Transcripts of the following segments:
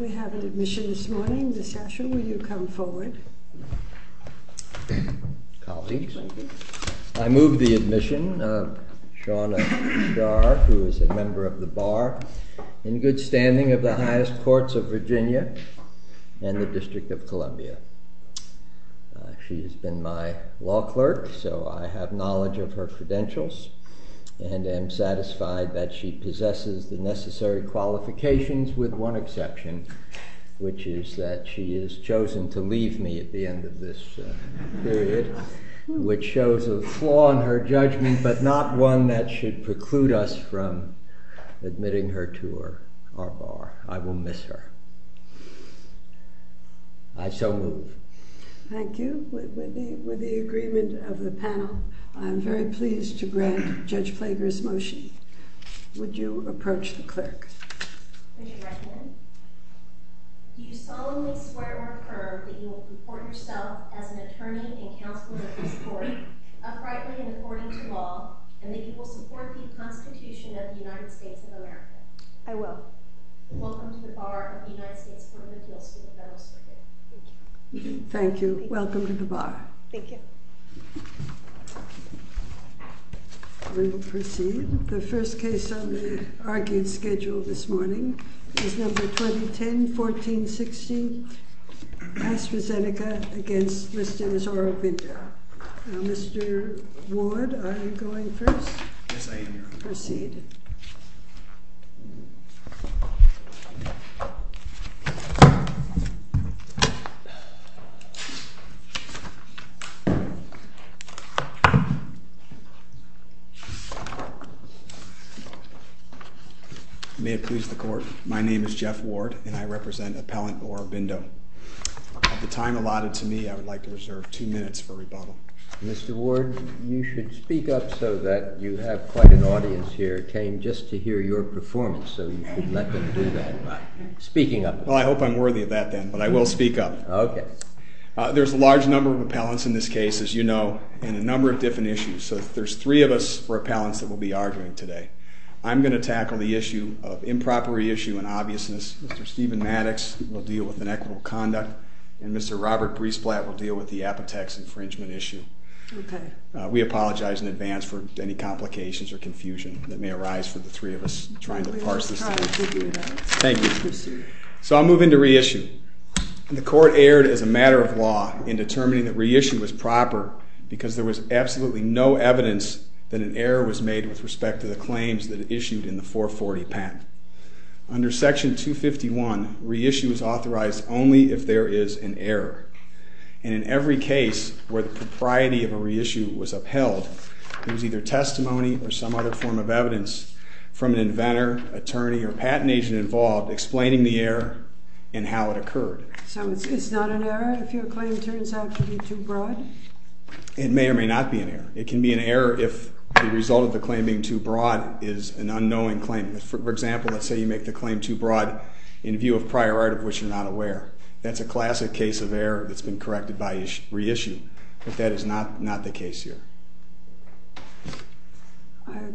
We have an admission this morning. Mr. Asher, will you come forward? Colleagues, I move the admission of Shawna Shah, who is a member of the Bar, in good standing of the highest courts of Virginia and the District of Columbia. She has been my law clerk, so I have knowledge of her credentials and am satisfied that she possesses the necessary qualifications, with one exception, which is that she has chosen to leave me at the end of this period, which shows a flaw in her judgment, but not one that should preclude us from admitting her to our Bar. I will miss her. I so move. Thank you. With the agreement of the panel, I'm very pleased to grant Judge Plager's motion. Would you approach the clerk? Would you recommend? Do you solemnly swear or affirm that you will comport yourself as an attorney and counsel of this court, uprightly and according to law, and that you will support the Constitution of the United States of America? I will. Welcome to the Bar of the United States Court of Appeals to the Federal Circuit. Thank you. Thank you. Welcome to the Bar. Thank you. We will proceed. The first case on the argued schedule this morning is number 2010-14-16, AstraZeneca against Mr. Misora Binder. Mr. Ward, are you going first? Yes, I am, Your Honor. Proceed. May it please the Court, my name is Jeff Ward, and I represent Appellant Mora Binder. Of the time allotted to me, I would like to reserve two minutes for rebuttal. Mr. Ward, you should speak up so that you have quite an audience here came just to hear your performance, so you should let them do that by speaking up. Well, I hope I'm worthy of that then, but I will speak up. Okay. There's a large number of appellants in this case, as you know, and a number of different issues, so there's three of us appellants that we'll be arguing today. I'm going to tackle the issue of improper issue and obviousness. Mr. Steven Maddox will deal with inequitable conduct, and Mr. Robert Briesplatt will deal with the Apotex infringement issue. Okay. We apologize in advance for any complications or confusion that may arise for the three of us trying to parse this thing. Thank you. Thank you. So I'll move into reissue. The court erred as a matter of law in determining that reissue was proper because there was absolutely no evidence that an error was made with respect to the claims that it issued in the 440 patent. Under Section 251, reissue is authorized only if there is an error, and in every case where the propriety of a reissue was upheld, it was either testimony or some other form of patent agent involved explaining the error and how it occurred. So it's not an error if your claim turns out to be too broad? It may or may not be an error. It can be an error if the result of the claim being too broad is an unknowing claim. For example, let's say you make the claim too broad in view of prior art of which you're not aware. That's a classic case of error that's been corrected by reissue, but that is not the case here.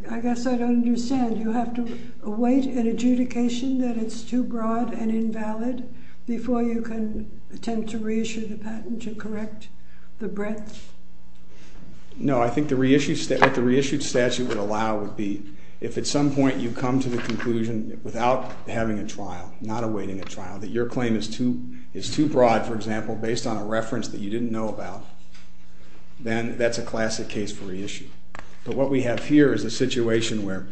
I guess I don't understand. You have to await an adjudication that it's too broad and invalid before you can attempt to reissue the patent to correct the breadth? No, I think what the reissued statute would allow would be if at some point you come to the conclusion without having a trial, not awaiting a trial, that your claim is too broad, for example, based on a reference that you didn't know about, then that's a classic case for reissue. But what we have here is a situation where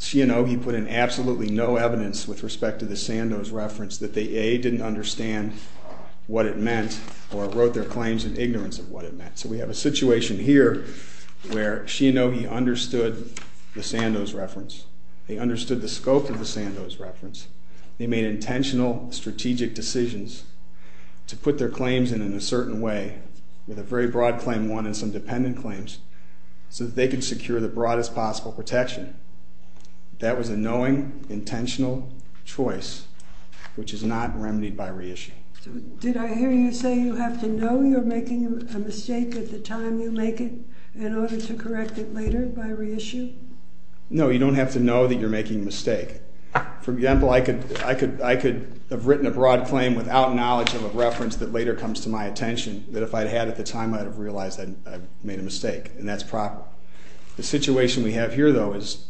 Shinogi put in absolutely no evidence with respect to the Sandoz reference that they, A, didn't understand what it meant or wrote their claims in ignorance of what it meant. So we have a situation here where Shinogi understood the Sandoz reference. They understood the scope of the Sandoz reference. They made intentional strategic decisions to put their claims in in a certain way with a very broad claim one and some dependent claims so that they could secure the broadest possible protection. That was a knowing, intentional choice, which is not remedied by reissue. Did I hear you say you have to know you're making a mistake at the time you make it in order to correct it later by reissue? No, you don't have to know that you're making a mistake. For example, I could have written a broad claim without knowledge of a reference that later comes to my attention that if I had at the time, I would have realized I made a mistake, and that's proper. The situation we have here, though, is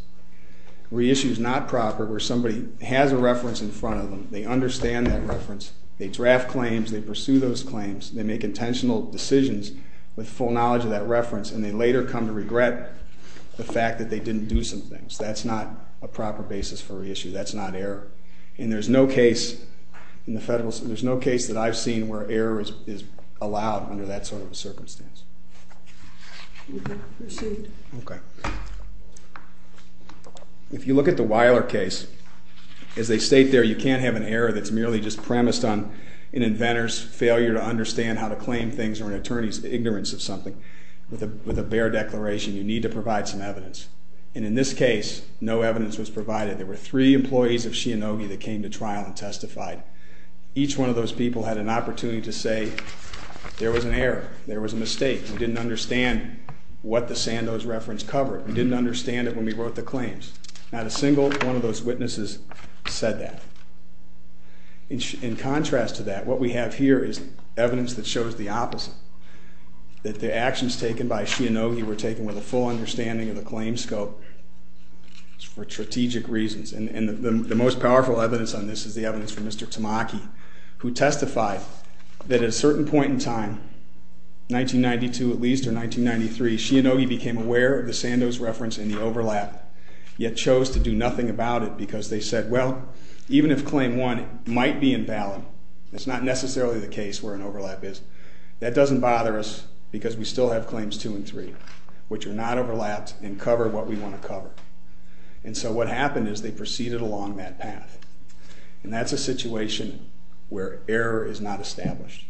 reissues not proper where somebody has a reference in front of them. They understand that reference. They draft claims. They pursue those claims. They make intentional decisions with full knowledge of that reference, and they later come to regret the fact that they didn't do some things. That's not a proper basis for reissue. That's not error. And there's no case in the federal, there's no case that I've seen where error is allowed under that sort of a circumstance. If you look at the Weiler case, as they state there, you can't have an error that's merely just premised on an inventor's failure to understand how to claim things or an attorney's ignorance of something with a bare declaration. You need to provide some evidence. And in this case, no evidence was provided. There were three employees of Shinogi that came to trial and testified. Each one of those people had an opportunity to say there was an error, there was a mistake. We didn't understand what the Sandoz reference covered. We didn't understand it when we wrote the claims. Not a single one of those witnesses said that. In contrast to that, what we have here is evidence that shows the opposite, that the claim scope is for strategic reasons. And the most powerful evidence on this is the evidence from Mr. Tamaki, who testified that at a certain point in time, 1992 at least or 1993, Shinogi became aware of the Sandoz reference and the overlap, yet chose to do nothing about it because they said, well, even if claim one might be invalid, it's not necessarily the case where an overlap is, that doesn't bother us because we still have claims two and three, which are not overlapped and cover what we want to cover. And so what happened is they proceeded along that path. And that's a situation where error is not established.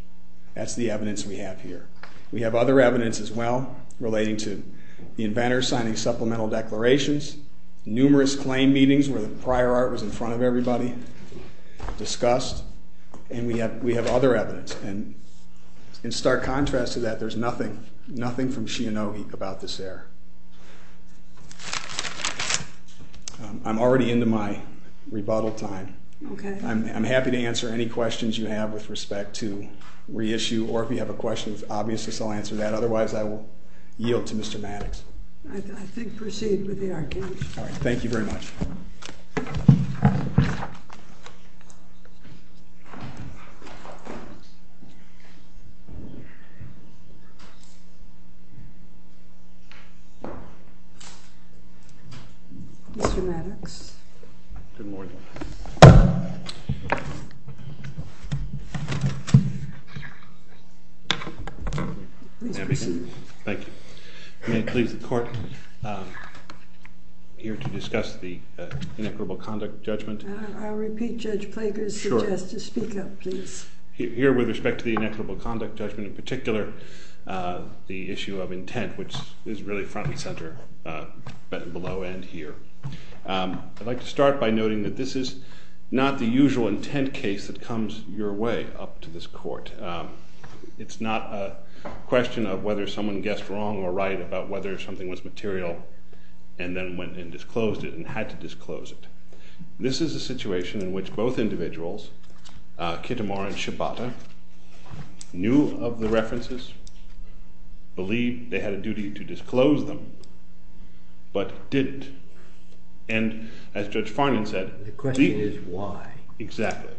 That's the evidence we have here. We have other evidence as well, relating to the inventor signing supplemental declarations, numerous claim meetings where the prior art was in front of everybody, discussed, and we have other evidence. And in stark contrast to that, there's nothing from Shinogi about this error. I'm already into my rebuttal time. I'm happy to answer any questions you have with respect to reissue, or if you have a question with obviousness, I'll answer that. Otherwise, I will yield to Mr. Maddox. I think proceed with the argument. Thank you very much. Mr. Maddox. Good morning. Please proceed. Thank you. May it please the court, I'm here to discuss the inequitable conduct judgment. I'll repeat Judge Plager's suggestion. Here with respect to the inequitable conduct judgment, and with respect to the inequitable conduct judgment in particular, the issue of intent, which is really front and center, but below and here. I'd like to start by noting that this is not the usual intent case that comes your way up to this court. It's not a question of whether someone guessed wrong or right about whether something was material, and then went and disclosed it, and had to disclose it. This is a situation in which both individuals, Kitamar and Shibata, knew of the references, believed they had a duty to disclose them, but didn't. And, as Judge Farnan said, The question is why. Exactly.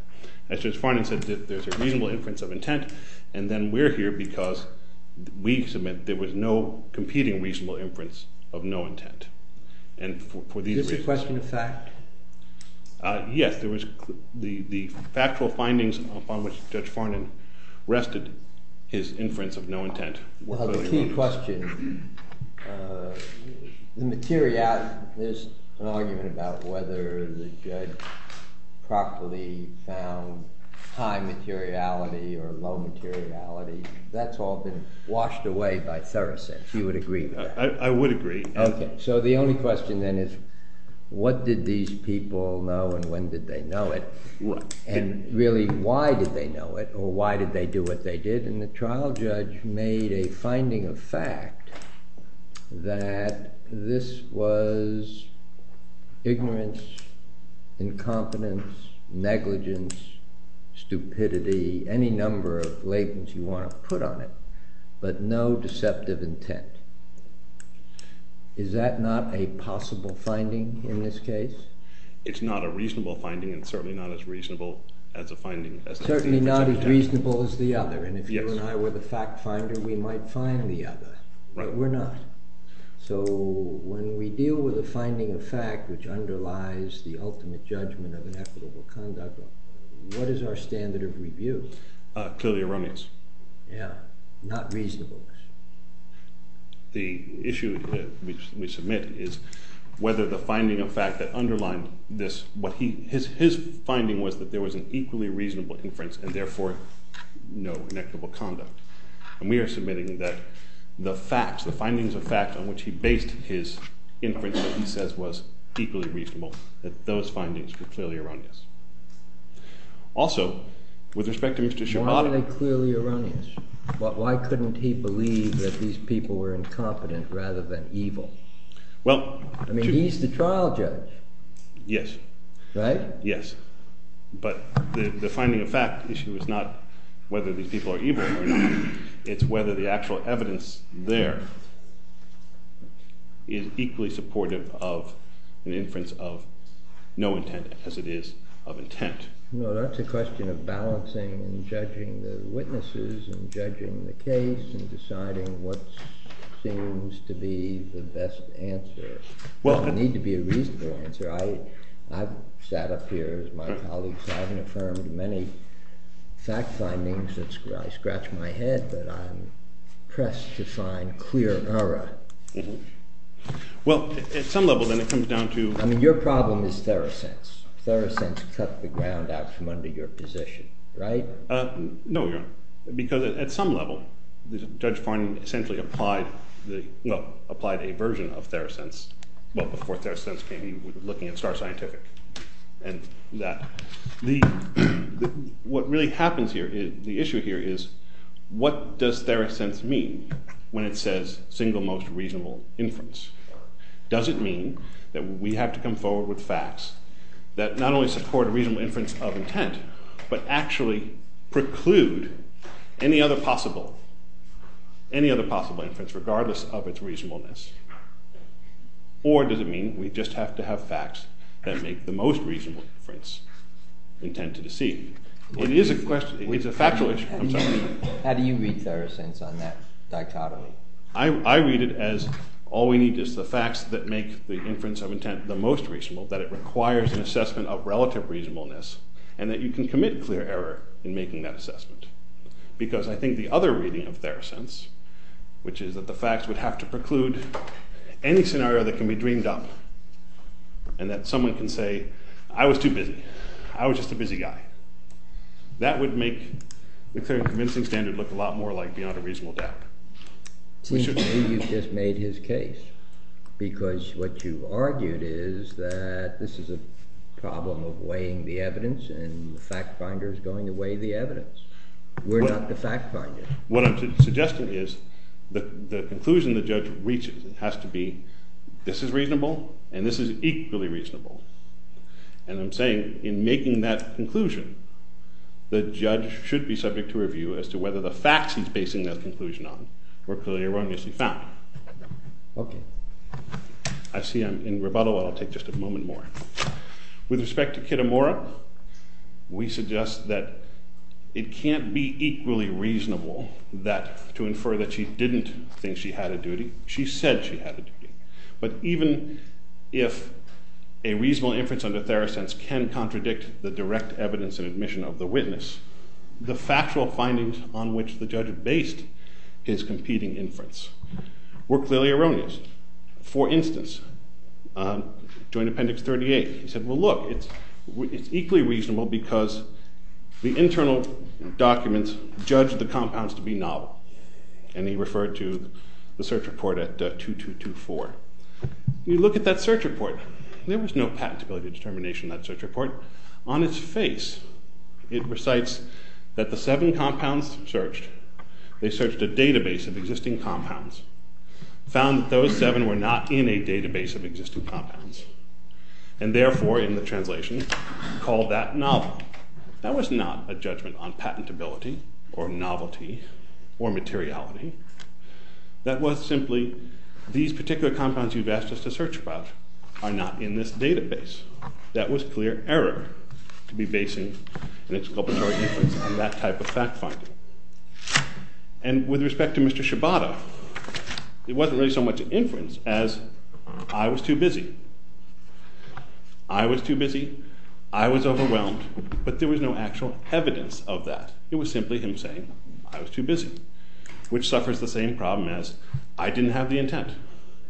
As Judge Farnan said, there's a reasonable inference of intent, and then we're here because we submit there was no competing reasonable inference of no intent. Is this a question of fact? Yes, there was the factual findings upon which Judge Farnan rested his inference of no intent. Well, the key question, the materiality, there's an argument about whether the judge properly found high materiality or low materiality. That's often washed away by Thereset. You would agree with that? I would agree. So the only question then is, what did these people know, and when did they know it? And really, why did they know it, or why did they do what they did? And the trial judge made a finding of fact that this was ignorance, incompetence, negligence, stupidity, any number of labels you want to put on it, but no deceptive intent. Is that not a possible finding in this case? It's not a reasonable finding, and certainly not as reasonable as a finding. Certainly not as reasonable as the other, and if you and I were the fact finder, we might find the other, but we're not. So when we deal with a finding of fact, which underlies the ultimate judgment of inequitable conduct, what is our standard of review? Clearly, erroneous. Yeah, not reasonable. The issue that we submit is whether the finding of fact that underlined this, his finding was that there was an equally reasonable inference, and therefore, no inequitable conduct. And we are submitting that the facts, the findings of fact on which he based his inference, that he says was equally reasonable, that those findings were clearly erroneous. Also, with respect to Mr. Shibata... Why are they clearly erroneous? Why couldn't he believe that these people were incompetent rather than evil? I mean, he's the trial judge. Yes. Right? Yes. But the finding of fact issue is not whether these people are evil or not, it's whether the actual evidence there is equally supportive of an inference of no intent as it is of intent. No, that's a question of balancing and judging the witnesses, and judging the case, and deciding what seems to be the best answer. There doesn't need to be a reasonable answer. I've sat up here as my colleague, so I haven't affirmed many fact findings. I scratch my head that I'm pressed to find clear error. Well, at some level, then, it comes down to... I mean, your problem is Therosense. Therosense cut the ground out from under your position. Right? No, Your Honor. Because at some level, Judge Farney essentially applied a version of Therosense, well, before Therosense came, he was looking at Star Scientific and that. What really happens here, the issue here is, what does Therosense mean when it says single most reasonable inference? Does it mean that we have to come forward with facts that not only support a reasonable inference of intent, but actually preclude any other possible inference, regardless of its reasonableness? Or does it mean we just have to have facts that make the most reasonable inference, intent to deceive? It is a factual issue. I'm sorry. How do you read Therosense on that dichotomy? I read it as all we need is the facts that make the inference of intent the most reasonable, that it requires an assessment of relative reasonableness, and that you can commit clear error in making that assessment. Because I think the other reading of Therosense, which is that the facts would have to preclude any scenario that can be dreamed up, and that someone can say, I was too busy, I was just a busy guy. That would make the Clearing and Convincing Standard look a lot more like Beyond a Reasonable Doubt. Seems to me you've just made his case, because what you argued is that this is a problem of weighing the evidence, and the fact finder is going to weigh the evidence. We're not the fact finder. What I'm suggesting is, the conclusion the judge reaches has to be, this is reasonable, and this is equally reasonable. And I'm saying, in making that conclusion, the judge should be subject to review as to whether the facts he's basing that conclusion on were clearly or erroneously found. I see I'm in rebuttal, but I'll take just a moment more. With respect to Kitamura, we suggest that it can't be equally reasonable to infer that she didn't think she had a duty. She said she had a duty. But even if a reasonable inference under Therosense can contradict the direct evidence and admission of the witness, the factual findings on which the judge based his competing inference were clearly erroneous. For instance, Joint Appendix 38. He said, well look, it's equally reasonable because the internal documents judged the compounds to be novel. And he referred to the search report at 2224. You look at that search report, there was no patentability determination in that search report. On its face, it recites that the 7 compounds searched. They searched a database of existing compounds, found that those 7 were not in a database of existing compounds, and therefore, in the translation, called that novel. That was not a judgment on patentability or novelty or materiality. That was simply, these particular compounds you've asked us to search about are not in this database. That was clear error to be basing an exculpatory inference on that type of fact finding. And with respect to Mr. Shibata, it wasn't really so much an inference as I was too busy. I was too busy, I was overwhelmed, but there was no actual evidence of that. It was simply him saying I was too busy, which suffers the same problem as I didn't have the intent.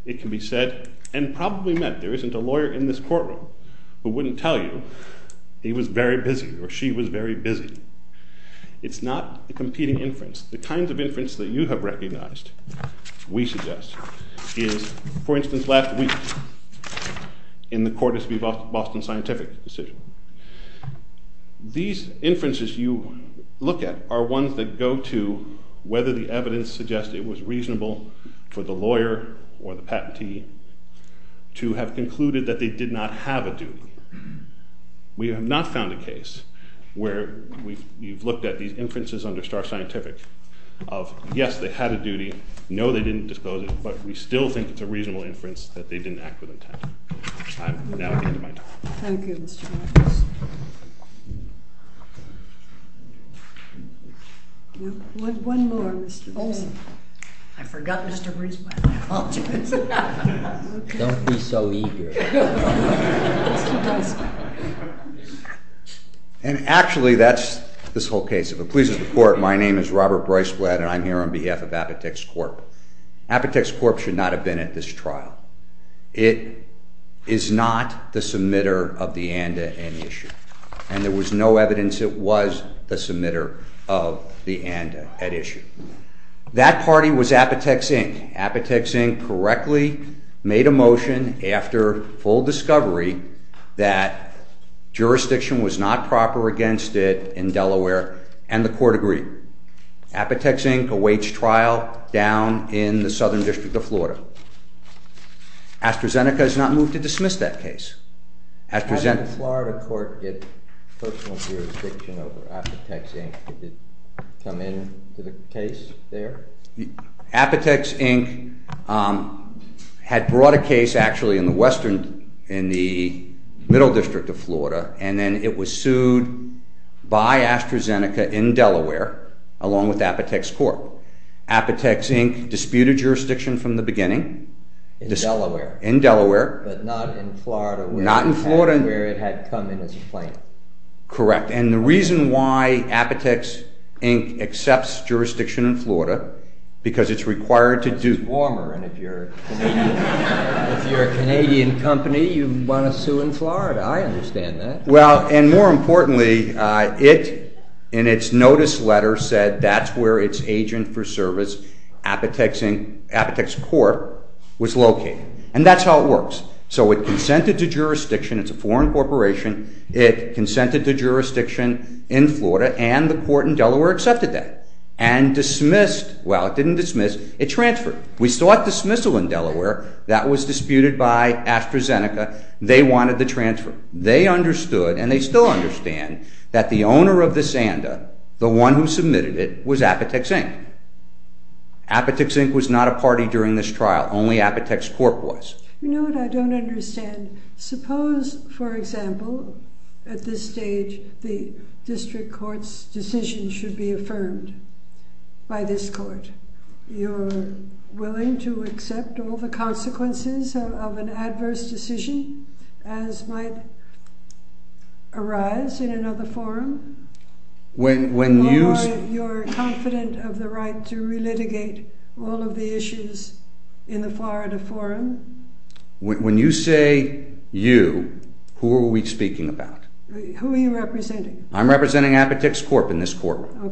It can be said, and probably meant, that there isn't a lawyer in this courtroom who wouldn't tell you he was very busy or she was very busy. It's not a competing inference. The kinds of inference that you have recognized, we suggest, is, for instance, last week in the Cordes v. Boston Scientific decision. These inferences you look at suggests it was reasonable for the lawyer or the patentee to have concluded that they did not have a duty. We have not found a case where you've looked at these inferences under Starr Scientific of, yes, they had a duty, no, they didn't dispose it, but we still think it's a reasonable inference that they didn't act with intent. I'm now at the end of my talk. Thank you. One more. I forgot Mr. Breisblatt. Don't be so eager. And actually, that's this whole case. If it pleases the Court, my name is Robert Breisblatt and I'm here on behalf of Apotex Corp. Apotex Corp. should not have been at this trial. It is not the submitter of the ANDA at issue. And there was no evidence it was the submitter of the ANDA at issue. That party was Apotex Inc. Apotex Inc. correctly made a motion after full discovery that jurisdiction was not proper against it in Delaware and the Court agreed. Apotex Inc. awaits trial down in the Southern District of Florida. AstraZeneca has not moved to dismiss that case. How did the Florida Court get personal jurisdiction over Apotex Inc.? Did it come into the case there? Apotex Inc. had brought a case actually in the middle district of Florida and then it was sued by AstraZeneca in Delaware along with Apotex Corp. Apotex Inc. disputed jurisdiction from the beginning in Delaware. But not in Florida where it had come in as a plaintiff. Correct. And the reason why Apotex Inc. accepts jurisdiction in Florida because it's required to do... It's warmer and if you're a Canadian company you want to sue in Florida. I understand that. Well, and more importantly it, in its notice letter, said that's where its agent for service, Apotex Corp., was located. And that's how it works. So it consented to jurisdiction. It's a foreign corporation. It consented to jurisdiction in Florida and the court in Delaware accepted that. And dismissed... Well, it didn't dismiss. It transferred. We still have dismissal in Delaware. That was disputed by AstraZeneca. They wanted the transfer. They understood and they still understand that the owner of this ANDA the one who submitted it was Apotex Inc. Apotex Inc. was not a party during this trial. Only Apotex Corp. was. You know what I don't understand? Suppose, for example at this stage the District Court's decision should be affirmed by this court. You're willing to accept all the consequences of an adverse decision as might arise in another forum? Or you're confident of the right to re-litigate all of the issues in the Florida forum? When you say you, who are we speaking about? Who are you representing? I'm representing Apotex Corp. in this courtroom.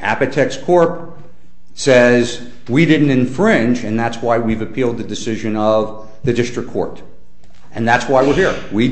Apotex Corp. says we didn't infringe and that's why we've appealed the decision of the District Court. And that's why we're here. We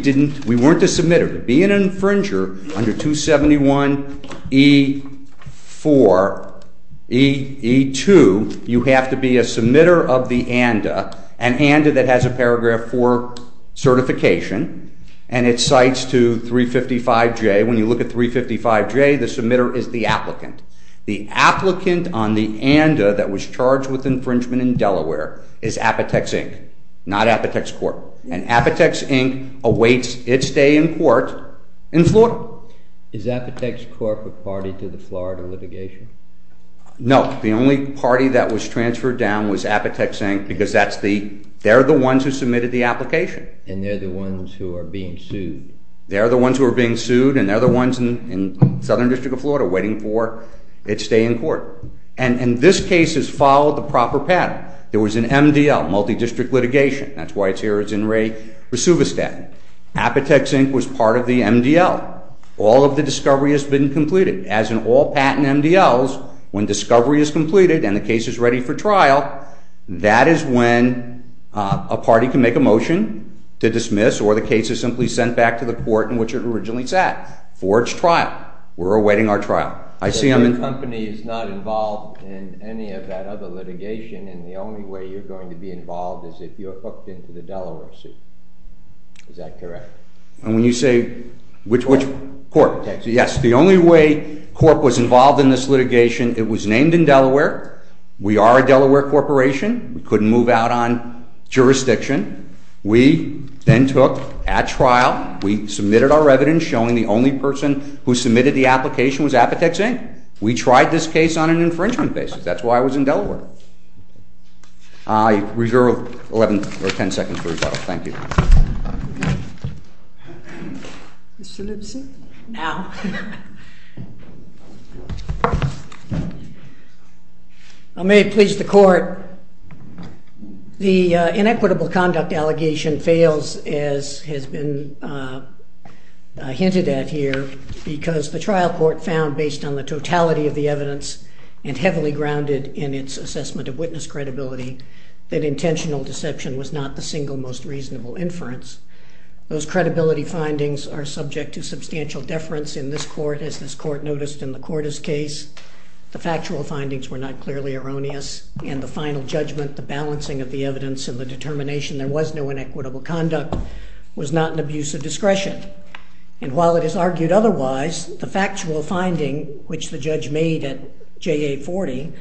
weren't the submitter. To be an infringer under 271E4 E2 you have to be a submitter of the ANDA an ANDA that has a paragraph 4 certification and it cites to 355J when you look at 355J the submitter is the applicant. The applicant on the ANDA that was charged with infringement in Delaware is Apotex Inc. Not Apotex Corp. And Apotex Inc. awaits its day in court in Florida. Is Apotex Corp. a party to the Florida litigation? No. The only party that was transferred down was Apotex Inc. because they're the ones who submitted the application. And they're the ones who are being sued? They're the ones who are being sued and they're the ones in Southern District of Florida waiting for its day in court. And this case has followed the proper pattern. There was an MDL, multi-district litigation. That's why it's here as In Re Resuvistat. Apotex Inc. was part of the MDL. All of the discovery has been completed. As in all patent MDLs when discovery is completed and the case is ready for trial that is when a party can make a motion to dismiss or the case is simply sent back to the court in which it originally sat for its trial. We're awaiting our trial. The company is not involved in any of that other litigation and the only way you're going to be involved is if you're hooked into the Delaware suit. Is that correct? Yes. The only way Corp. was involved in this litigation, it was named in Delaware. We are a Delaware corporation. We couldn't move out on jurisdiction. We then took at trial. We submitted our evidence showing the only person who submitted the application was Apotex Inc. We tried this case on an infringement basis. That's why I was in Delaware. I reserve 11 or 10 seconds for rebuttal. Thank you. Mr. Lipson? Now. I may please the court. The inequitable conduct allegation fails as has been hinted at here because the trial court found based on the totality of the evidence and heavily grounded in its assessment of witness credibility that intentional deception was not the single most reasonable inference. Those credibility findings are subject to substantial deference in this court as this court noticed in the Corda's case. The factual findings were not clearly erroneous and the final judgment, the balancing of the evidence and the determination there was no inequitable conduct was not an abuse of discretion. And while it is argued otherwise, the factual finding which the judge made at JA40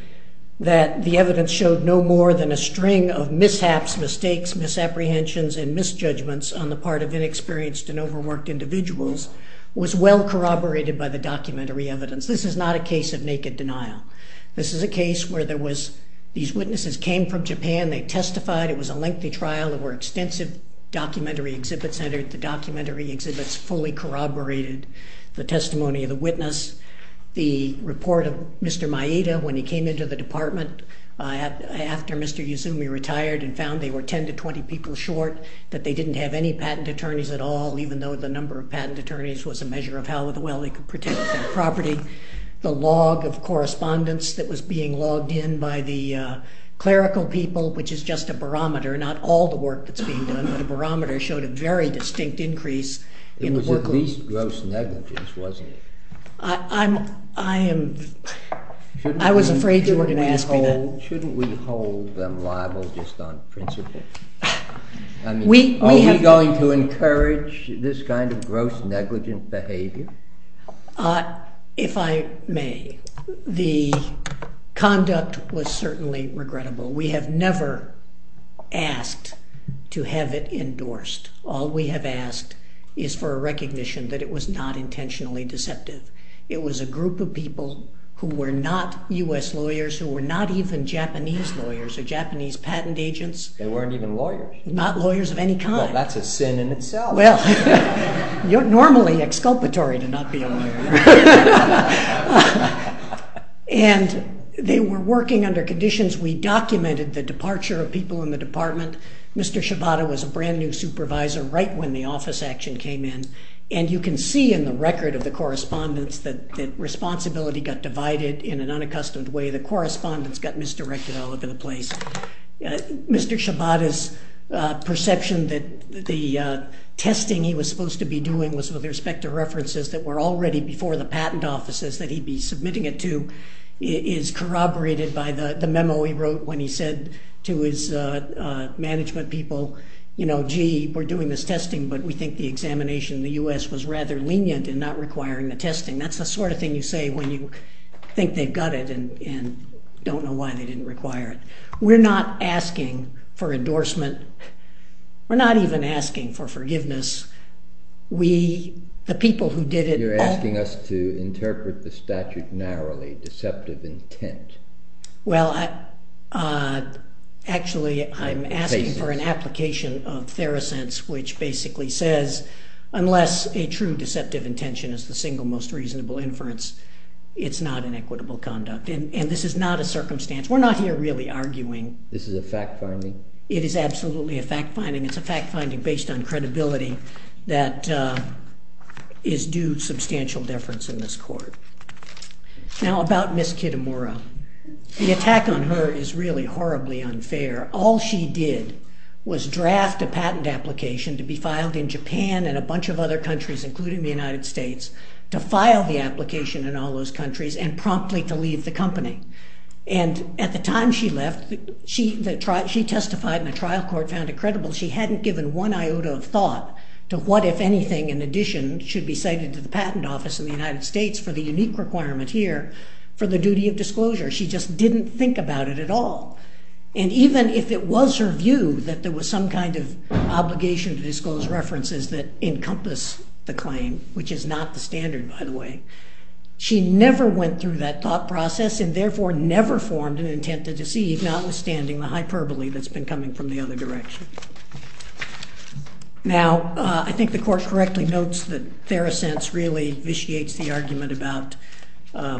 that the evidence showed no more than a string of mishaps, mistakes, misapprehensions and misjudgments on the part of inexperienced and overworked individuals was well corroborated by the documentary evidence. This is not a case of naked denial. This is a case where there was these witnesses came from Japan, they testified, it was a lengthy trial, there were extensive documentary exhibits entered, the documentary exhibits fully corroborated the testimony of the witness. The report of Mr. Maeda when he came into the department after Mr. Yuzumi retired and found they were 10 to 20 people short, that they didn't have any patent attorneys at all even though the number of patent attorneys was a measure of how well they could protect their property. The log of correspondence that was being logged in by the clerical people, which is just a barometer, not all the work that's being done, but a barometer showed a very distinct increase in the workload. It was at least gross negligence wasn't it? I was afraid you were going to ask me that. Shouldn't we hold them liable just on principle? Are we going to encourage this kind of gross negligence behavior? If I may, the conduct was certainly regrettable. We have never asked to have it endorsed. All we have asked is for a recognition that it was not intentionally deceptive. It was a group of people who were not U.S. lawyers, who were not even Japanese lawyers or Japanese patent agents. They weren't even lawyers? Not lawyers of any kind. Well that's a sin in itself. You're normally exculpatory to not be a lawyer. They were working under conditions. We documented the departure of people in the department. Mr. Shibata was a brand new supervisor right when the office action came in. You can see in the record of the correspondence that responsibility got divided in an unaccustomed way. The correspondence got misdirected all over the place. Mr. Shibata's perception that the testing he was supposed to be doing was with respect to references that were already before the patent offices that he'd be submitting it to is corroborated by the memo he wrote when he said to his management people, gee, we're doing this testing but we think the examination in the U.S. was rather lenient in not requiring the testing. That's the sort of thing you say when you think they've got it and don't know why they didn't require it. We're not asking for endorsement. We're not even asking for forgiveness. You're asking us to interpret the statute narrowly, deceptive intent. Well, actually I'm asking for an application of theracents which basically says unless a true deceptive intention is the single most reasonable inference it's not an equitable conduct. And this is not a circumstance, we're not here really arguing. This is a fact finding? It is absolutely a fact finding. It's a fact finding based on credibility that is due substantial deference in this court. Now about Ms. Kitamura. The attack on her is really horribly unfair. All she did was draft a patent application to be filed in Japan and a bunch of other countries including the United States to file the application in all those countries and promptly to leave the company. And at the time she left, she testified and the trial court found it credible she hadn't given one iota of thought to what if anything in addition should be cited to the patent office in the United States for the unique requirement here for the duty of disclosure. She just didn't think about it at all. And even if it was her view that there was some kind of obligation to disclose references that encompass the claim which is not the standard by the way. She never went through that thought process and therefore never formed an intent to deceive notwithstanding the hyperbole that's been coming from the other direction. Now I think the court correctly notes that Theracense really vitiates the argument about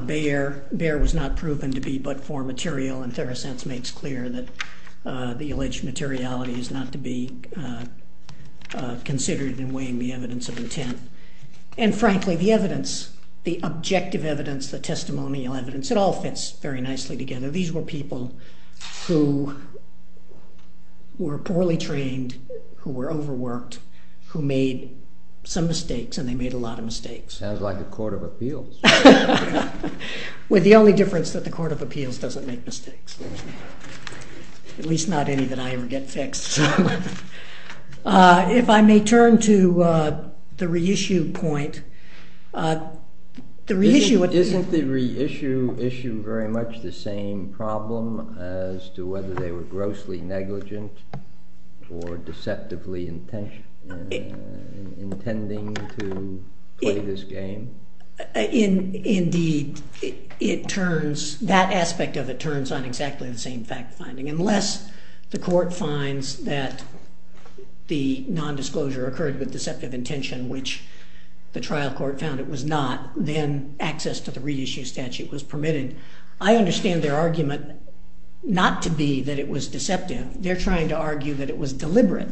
Bayer was not proven to be but for material and Theracense makes clear that the alleged materiality is not to be considered in weighing the evidence of intent. And frankly the evidence, the objective evidence, the testimonial evidence, it all fits very nicely together. These were people who were poorly trained, who were overworked, who made some mistakes and they made a lot of mistakes. Sounds like the Court of Appeals. With the only difference that the Court of Appeals doesn't make mistakes. At least not any that I ever get fixed. If I may turn to the reissue point. Isn't the reissue issue very much the same problem as to whether they were grossly negligent or deceptively intending to play this game? Indeed it turns, that aspect of it The court finds that the nondisclosure occurred with deceptive intention which the trial court found it was not. Then access to the reissue statute was permitted. I understand their argument not to be that it was deceptive. They're trying to argue that it was deliberate.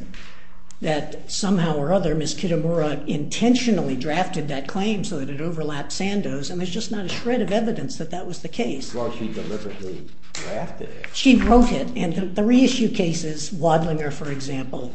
That somehow or other Ms. Kitamura intentionally drafted that claim so that it overlaps Sandoz and there's just not a shred of evidence that that was the case. She wrote it and the reissue cases, Wadlinger for example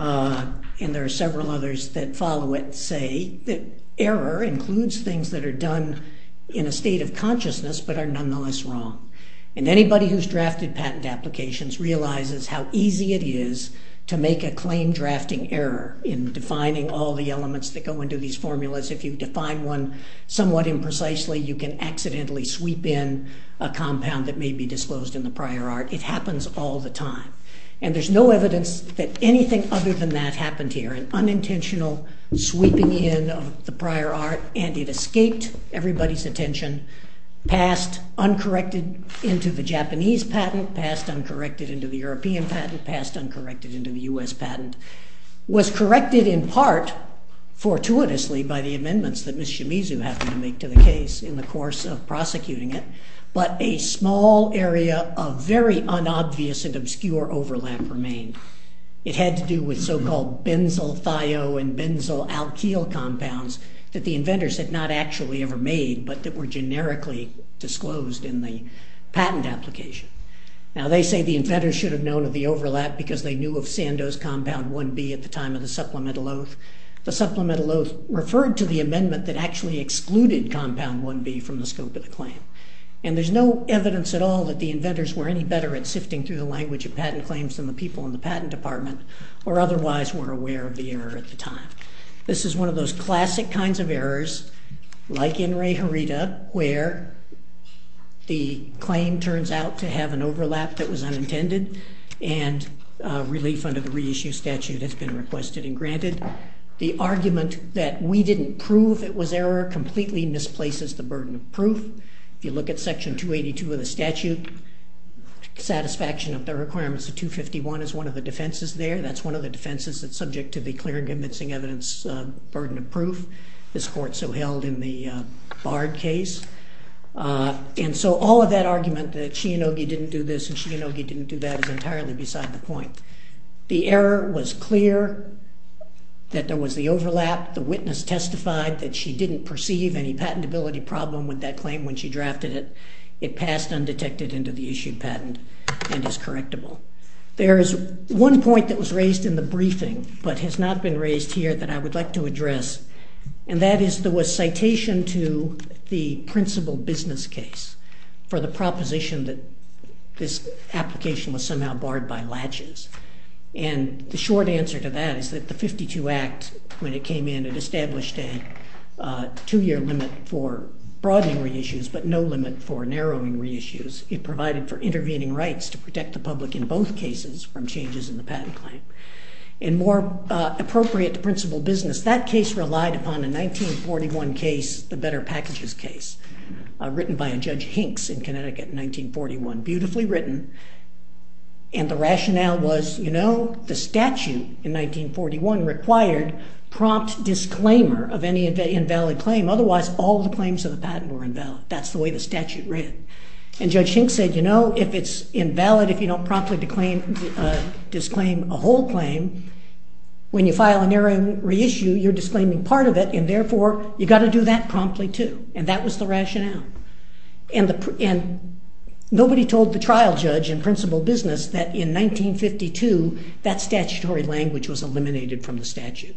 and there are several others that follow it say that error includes things that are done in a state of consciousness but are nonetheless wrong. And anybody who's drafted patent applications realizes how easy it is to make a claim drafting error in defining all the elements that go into these formulas. If you define one somewhat imprecisely you can accidentally sweep in a compound that may be disclosed in the prior art. It happens all the time. And there's no evidence that anything other than that happened here. An unintentional sweeping in of the prior art and it escaped everybody's attention passed uncorrected into the Japanese patent, passed uncorrected into the European patent, passed uncorrected into the U.S. patent. Was corrected in part fortuitously by the amendments that Ms. Shimizu happened to make to the case in the course of prosecuting it but a small area of very unobvious and obscure overlap remained. It had to do with so called benzyl thio and benzyl alkyl compounds that the inventors had not actually ever made but that were generically disclosed in the patent application. Now they say the inventors should have known of the overlap because they knew of Sandow's compound 1B at the Supplemental Oath. The Supplemental Oath referred to the amendment that actually excluded compound 1B from the scope of the claim. And there's no evidence at all that the inventors were any better at sifting through the language of patent claims than the people in the patent department or otherwise were aware of the error at the time. This is one of those classic kinds of errors like in Ray Harita where the claim turns out to have an overlap that was unintended and relief under the reissue statute has been requested and granted. The argument that we didn't prove it was error completely misplaces the burden of proof. If you look at section 282 of the statute satisfaction of the requirements of 251 is one of the defenses there. That's one of the defenses that's subject to the clear and convincing evidence burden of proof this court so held in the Bard case. And so all of that argument that Shianogi didn't do this and Shianogi didn't do that is entirely beside the point. The error was clear that there was the overlap. The witness testified that she didn't perceive any patentability problem with that claim when she drafted it. It passed undetected into the issued patent and is correctable. There is one point that was raised in the briefing but has not been raised here that I would like to address and that is there was citation to the principal business case for the proposition that this application was somehow barred by latches. And the short answer to that is that the 52 Act when it came in it established a two year limit for broadening reissues but no limit for narrowing reissues. It provided for intervening rights to protect the public in both cases from changes in the patent claim. And more appropriate to principal business that case relied upon a 1941 case, the Better Packages case, written by a Judge Hinks in Connecticut in 1941. Beautifully written and the rationale was the statute in 1941 required prompt disclaimer of any invalid claim otherwise all the claims of the patent were invalid. That's the way the statute read. And Judge Hinks said you know if it's invalid if you don't promptly disclaim a whole claim when you file a narrowing issue you're disclaiming part of it and therefore you got to do that promptly too. And that was the rationale. And nobody told the trial judge in principal business that in 1952 that statutory language was eliminated from the statute.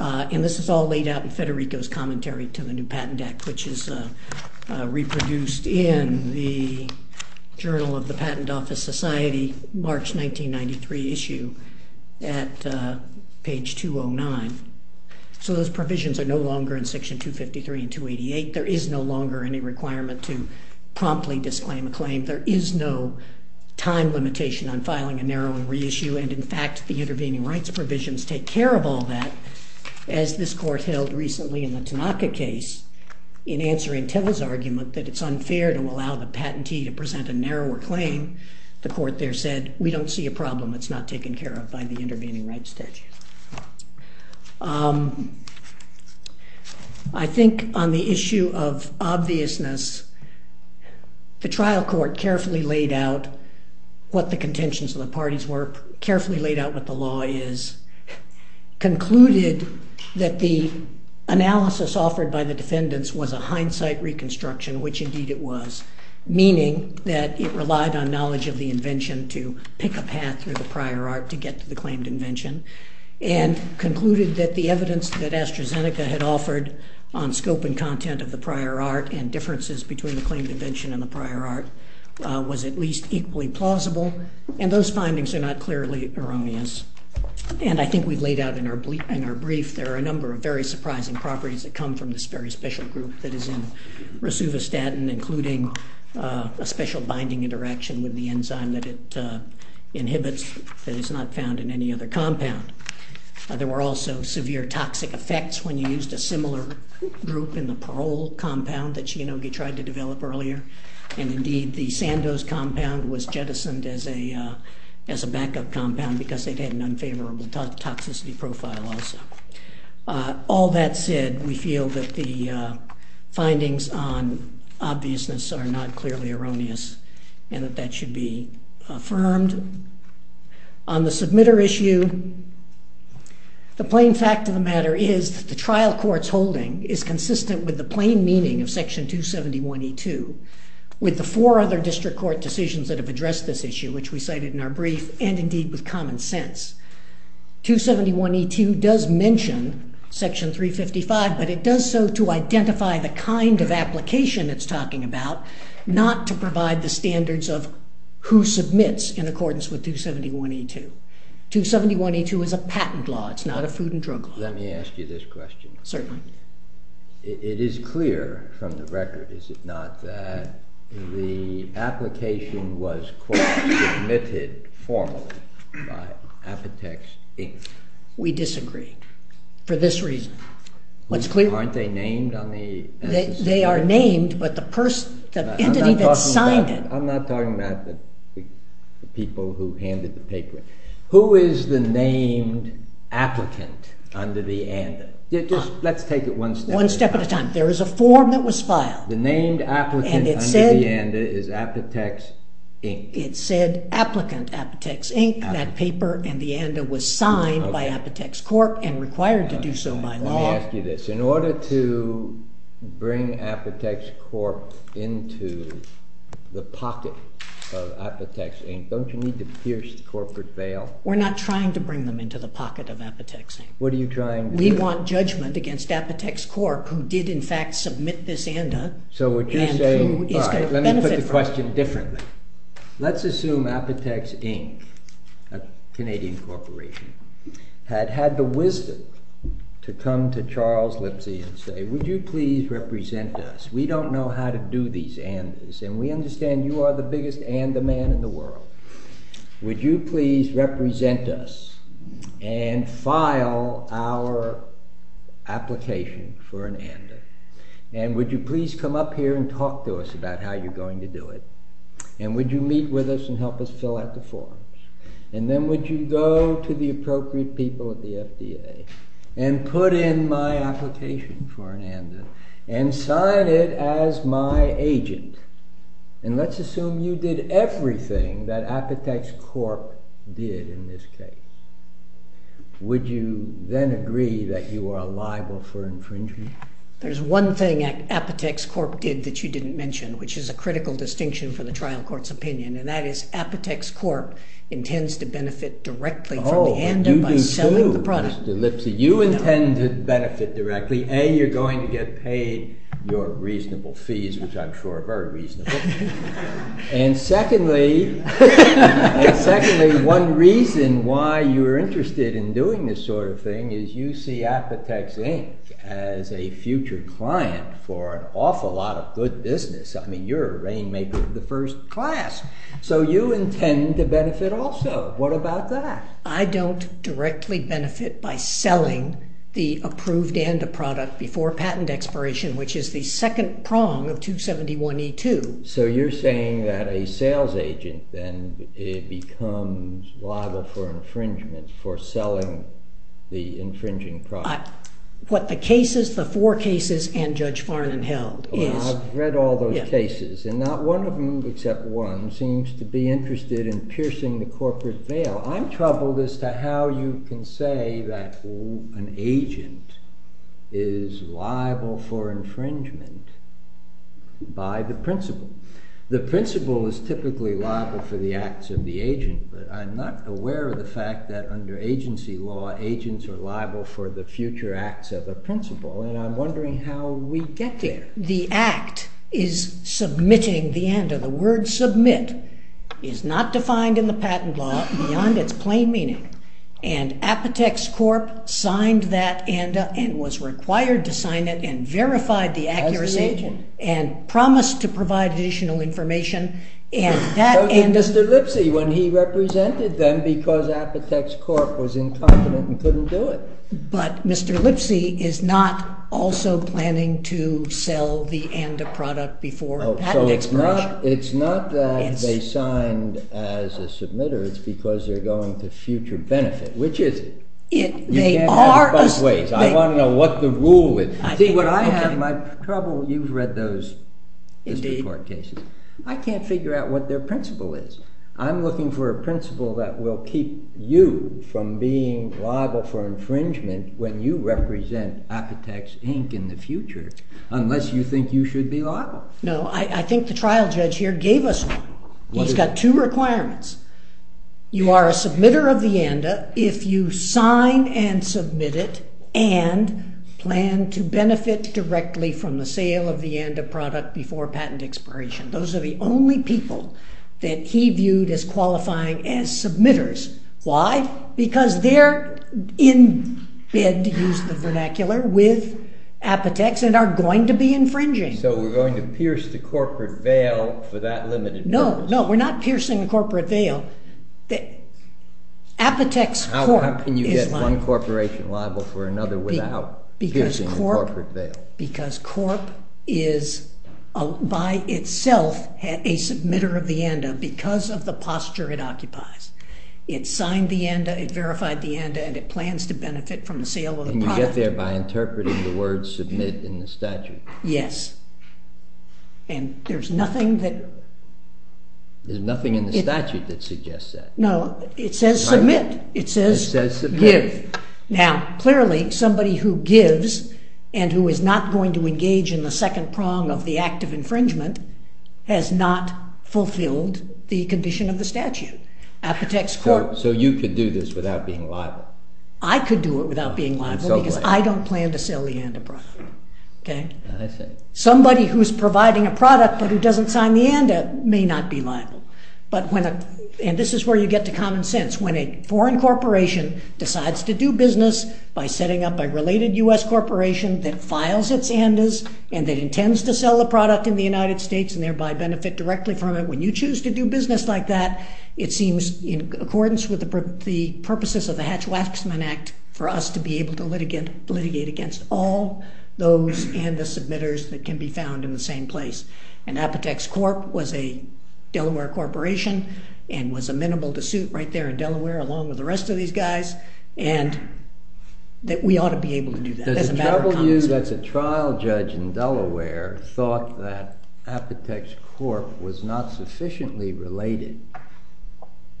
And this is all laid out in Federico's Commentary to the New Patent Act which is reproduced in the Journal of the Patent Office Society March 1993 issue at page 209. So those provisions are no longer in section 253 and 288. There is no longer any requirement to promptly disclaim a claim. There is no time limitation on filing a narrowing reissue and in fact the intervening rights provisions take care of all that as this court held recently in the Tanaka case in answering Teller's argument that it's unfair to allow the patentee to present a narrower claim. The court there said we don't see a problem it's not taken care of by the intervening rights statute. I think on the issue of obviousness the trial court carefully laid out what the contentions of the parties were, carefully laid out what the law is, concluded that the analysis offered by the defendants was a hindsight reconstruction which indeed it was meaning that it relied on knowledge of the invention to pick a path through the prior art to get to the claimed invention and concluded that the evidence that AstraZeneca had offered on scope and content of the prior art and differences between the claimed invention and the prior art was at least equally plausible and those findings are not clearly erroneous and I think we've laid out in our brief there are a number of very surprising properties that come from this very special group that is in rosuvastatin including a special binding interaction with the enzyme that it inhibits that is not found in any other compound. There were also severe toxic effects when you used a similar group in the Parole compound that Shinogi tried to develop earlier and indeed the Sandose compound was jettisoned as a backup compound because they had an unfavorable toxicity profile also. All that said, we feel that the findings on obviousness are not clearly erroneous and that that should be affirmed. On the submitter issue the plain fact of the matter is the trial court's holding is consistent with the plain meaning of section 271E2 with the four other district court decisions that have addressed this issue which we cited in our brief and indeed with common sense. 271E2 does mention section 355 but it does so to identify the kind of application it's talking about not to provide the standards of who submits in accordance with 271E2. 271E2 is a patent law, it's not a food and drug law. Let me ask you this question. Certainly. It is clear from the record is it not that the application was submitted formally by Apotex Inc. We disagree. For this reason. Aren't they named on the They are named but the person the entity that signed it. I'm not talking about the people who handed the paper. Who is the named applicant under the ANDA? Let's take it one step at a time. There is a form that was filed. The named applicant under the ANDA is Apotex Inc. It said applicant Apotex Inc. That paper and the ANDA was signed by Apotex Corp. and required to do so by law. Let me ask you this. In order to bring Apotex Corp. into the pocket of Apotex Inc. don't you need to pierce the corporate veil? We're not trying to bring them into the pocket of Apotex Inc. We want judgment against Apotex Corp. who did in fact submit this ANDA. Let me put the question differently. Let's assume Apotex Inc., a Canadian corporation, had had the wisdom to come to Charles Lipsey and say would you please represent us? We don't know how to do these ANDAs and we understand you are the biggest ANDA man in the world. Would you please represent us and file our application for an ANDA? And would you please come up here and talk to us about how you're going to do it? And would you meet with us and help us fill out the forms? And then would you go to the appropriate people at the FDA and put in my application for an ANDA and sign it as my agent? And let's assume you did everything that Apotex Corp. did in this case. Would you then agree that you are liable for infringement? There's one thing Apotex Corp. did that you didn't mention, which is a critical distinction for the trial court's opinion, and that is Apotex Corp. intends to benefit directly from the ANDA by selling the product. You do too, Mr. Lipsey. You intend to benefit directly. A, you're going to get paid your reasonable fees, which I'm sure are very reasonable. And secondly, one reason why you're interested in doing this sort of thing is you see Apotex Inc. as a future client for an awful lot of good business. I mean, you're a rainmaker of the first class. So you intend to benefit also. What about that? I don't directly benefit by selling the approved ANDA product before patent expiration, which is the second prong of 271E2. So you're saying that a sales agent then becomes liable for infringement for selling the infringing product. What the cases, the four cases, and Judge Farnon held is I've read all those cases, and not one of them except one seems to be interested in piercing the corporate veil. I'm troubled as to how you can say that an agent is liable for infringement by the principal. The principal is typically liable for the acts of the agent, but I'm not aware of the fact that under agency law, agents are liable for the future acts of a principal, and I'm wondering how we get there. The act is submitting the ANDA. The word submit is not defined in the patent law beyond its plain meaning, and Apotex Corp. signed that ANDA and was required to sign it and verified the accuracy and promised to provide additional information. So did Mr. Lipsy when he represented them because Apotex Corp. was incompetent and couldn't do it. But Mr. Lipsy is not also planning to sell the ANDA product before patent expiration. So it's not that they signed as a submitter, it's because they're going to future benefit. Which is it? You can't have it both ways. I want to know what the rule is. See what I have my trouble, you've read those Mr. Corp. cases. I can't figure out what their principal is. I'm looking for a principal that will keep you from being liable for infringement when you represent Apotex Inc. in the future, unless you think you should be liable. No, I think the trial judge here gave us one. He's got two requirements. You are a sign and submit it and plan to benefit directly from the sale of the ANDA product before patent expiration. Those are the only people that he viewed as qualifying as submitters. Why? Because they're in bed, to use the vernacular, with Apotex and are going to be infringing. So we're going to pierce the corporate veil for that limited purpose. No, we're not piercing the corporate veil. Apotex Corp. How can you get one corporation liable for another without piercing the corporate veil? Because Corp. is by itself a submitter of the ANDA because of the posture it occupies. It signed the ANDA, it verified the ANDA and it plans to benefit from the sale of the product. Can you get there by interpreting the words submit in the statute? Yes. And there's nothing that there's nothing in the statute that suggests that. No, it says submit. It says give. Now, clearly, somebody who gives and who is not going to engage in the second prong of the act of infringement has not fulfilled the condition of the statute. Apotex Corp. So you could do this without being liable? I could do it without being liable because I don't plan to sell the ANDA product. Somebody who's providing a product but who doesn't sign the ANDA may not be liable. And this is where you get to common sense. When a foreign corporation decides to do business by setting up a related U.S. corporation that files its ANDAs and that intends to sell the product in the United States and thereby benefit directly from it, when you choose to do business like that, it seems in accordance with the purposes of the Hatch-Waxman Act for us to be able to litigate against all those ANDA submitters that can be found in the same place. And Apotex Corp. was a Delaware corporation and was amenable to suit right there in Delaware along with the rest of these guys and that we ought to be able to do that. Does it trouble you that the trial judge in Delaware thought that Apotex Corp. was not sufficiently related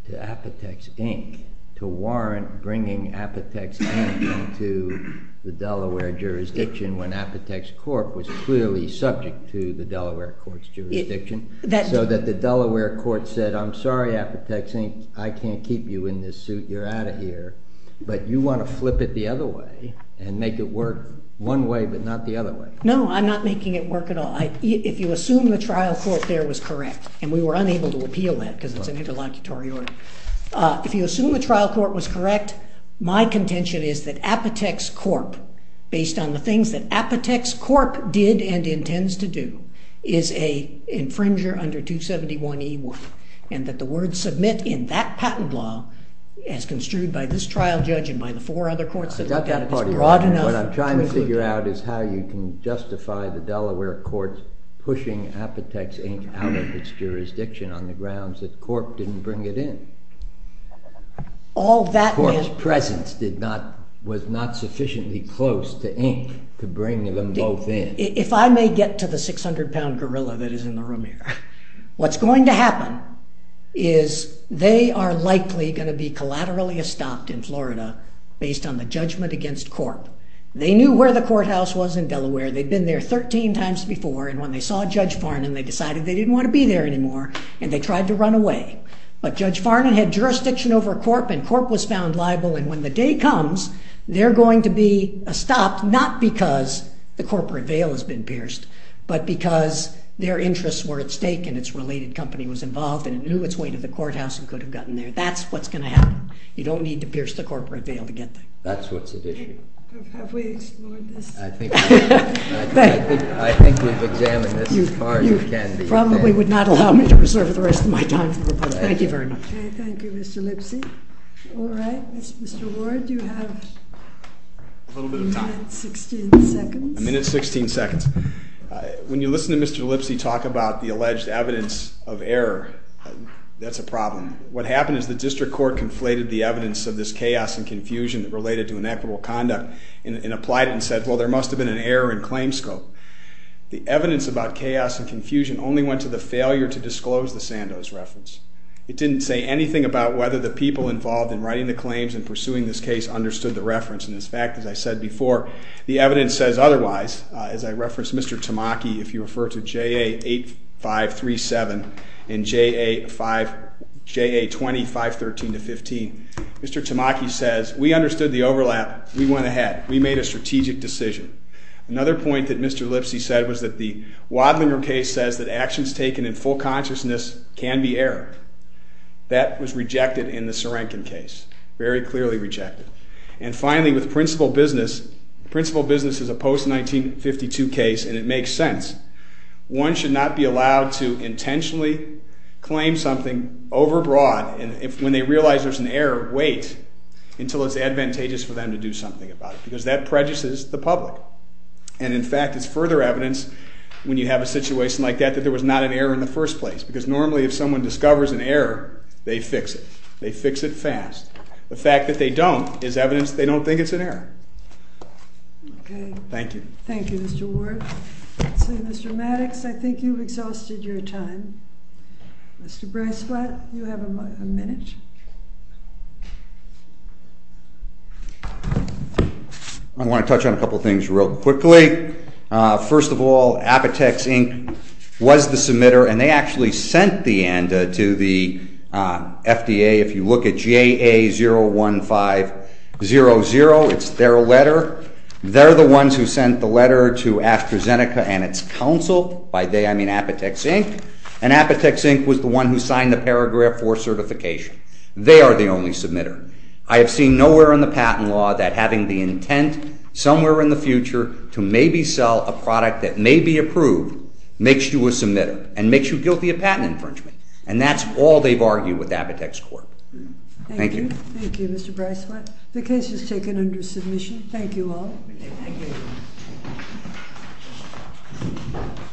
to Apotex Inc. to warrant bringing Apotex Inc. to the Delaware jurisdiction when Apotex Corp. was clearly subject to the Delaware court's jurisdiction so that the Delaware court said, I'm sorry Apotex Inc. I can't keep you in this suit. You're out of here. But you want to flip it the other way and make it work one way but not the other way. No, I'm not making it work at all. If you assume the trial court there was correct and we were unable to appeal that because it's an interlocutory order. If you assume the trial court was correct my contention is that Apotex Corp. based on the things that Apotex Corp. did and intends to do is a infringer under 271E1 and that the words submit in that patent law as construed by this trial judge and by the four other courts that look at it is broad enough. What I'm trying to figure out is how you can justify the Delaware court pushing Apotex Inc. out of its presence. Corp.'s presence was not sufficiently close to Inc. to bring them both in. If I may get to the 600 pound gorilla that is in the room here. What's going to happen is they are likely going to be collaterally estopped in Florida based on the judgment against Corp. They knew where the courthouse was in Delaware. They'd been there 13 times before and when they saw Judge Farnham they decided they didn't want to be there anymore and they tried to run away. But Judge Farnham had jurisdiction over Corp. and Corp. was found liable and when the day comes they're going to be estopped not because the corporate veil has been pierced but because their interests were at stake and its related company was involved and it knew its way to the courthouse and could have gotten there. That's what's going to happen. You don't need to pierce the corporate veil to get there. Have we explored this? I think we've examined this as far as we can. You probably would not allow me to reserve the rest of my time for the public. Thank you very much. Thank you Mr. Lipsy. Mr. Ward you have a minute and 16 seconds. A minute and 16 seconds. When you listen to Mr. Lipsy talk about the alleged evidence of error that's a problem. What happened is the district court conflated the evidence of this chaos and confusion related to equitable conduct and applied it and said well there must have been an error in claim scope. The evidence about chaos and confusion only went to the failure to disclose the Sandoz reference. It didn't say anything about whether the people involved in writing the claims and pursuing this case understood the reference and in fact as I said before the evidence says otherwise as I referenced Mr. Tamaki if you refer to JA 8537 and JA 2513-15 Mr. Tamaki says we understood the overlap. We went ahead. We made a strategic decision. Another point that Mr. Lipsy said was that the Wadlinger case says that actions taken in full consciousness can be error. That was rejected in the Serenkin case. Very clearly rejected. And finally with principal business, principal business is a post 1952 case and it makes sense. One should not be allowed to intentionally claim something over broad and when they realize there's an error, wait until it's advantageous for them to do something about it because that prejudices the public and in fact it's further evidence when you have a situation like that that there was not an error in the first place because normally if someone discovers an error they fix it. They fix it fast. The fact that they don't is evidence they don't think it's an error. Okay. Thank you. Thank you Mr. Ward. So Mr. Maddox I think you've exhausted your time. Mr. Breisflat you have a minute. I want to touch on a couple things real quickly. First of all Apotex Inc. was the submitter and they actually sent the ENDA to the FDA. If you look at JA01500 it's their letter. They're the ones who sent the letter to AstraZeneca and it's counsel. By they I mean Apotex Inc. and Apotex Inc. was the one who signed the paragraph 4 certification. They are the only submitter. I have seen nowhere in the patent law that having the intent somewhere in the future to maybe sell a product that may be approved makes you a submitter and makes you guilty of patent infringement and that's all they've argued with Apotex Corp. Thank you. Thank you Mr. Breisflat. The case is taken under submission. Thank you all. Thank you.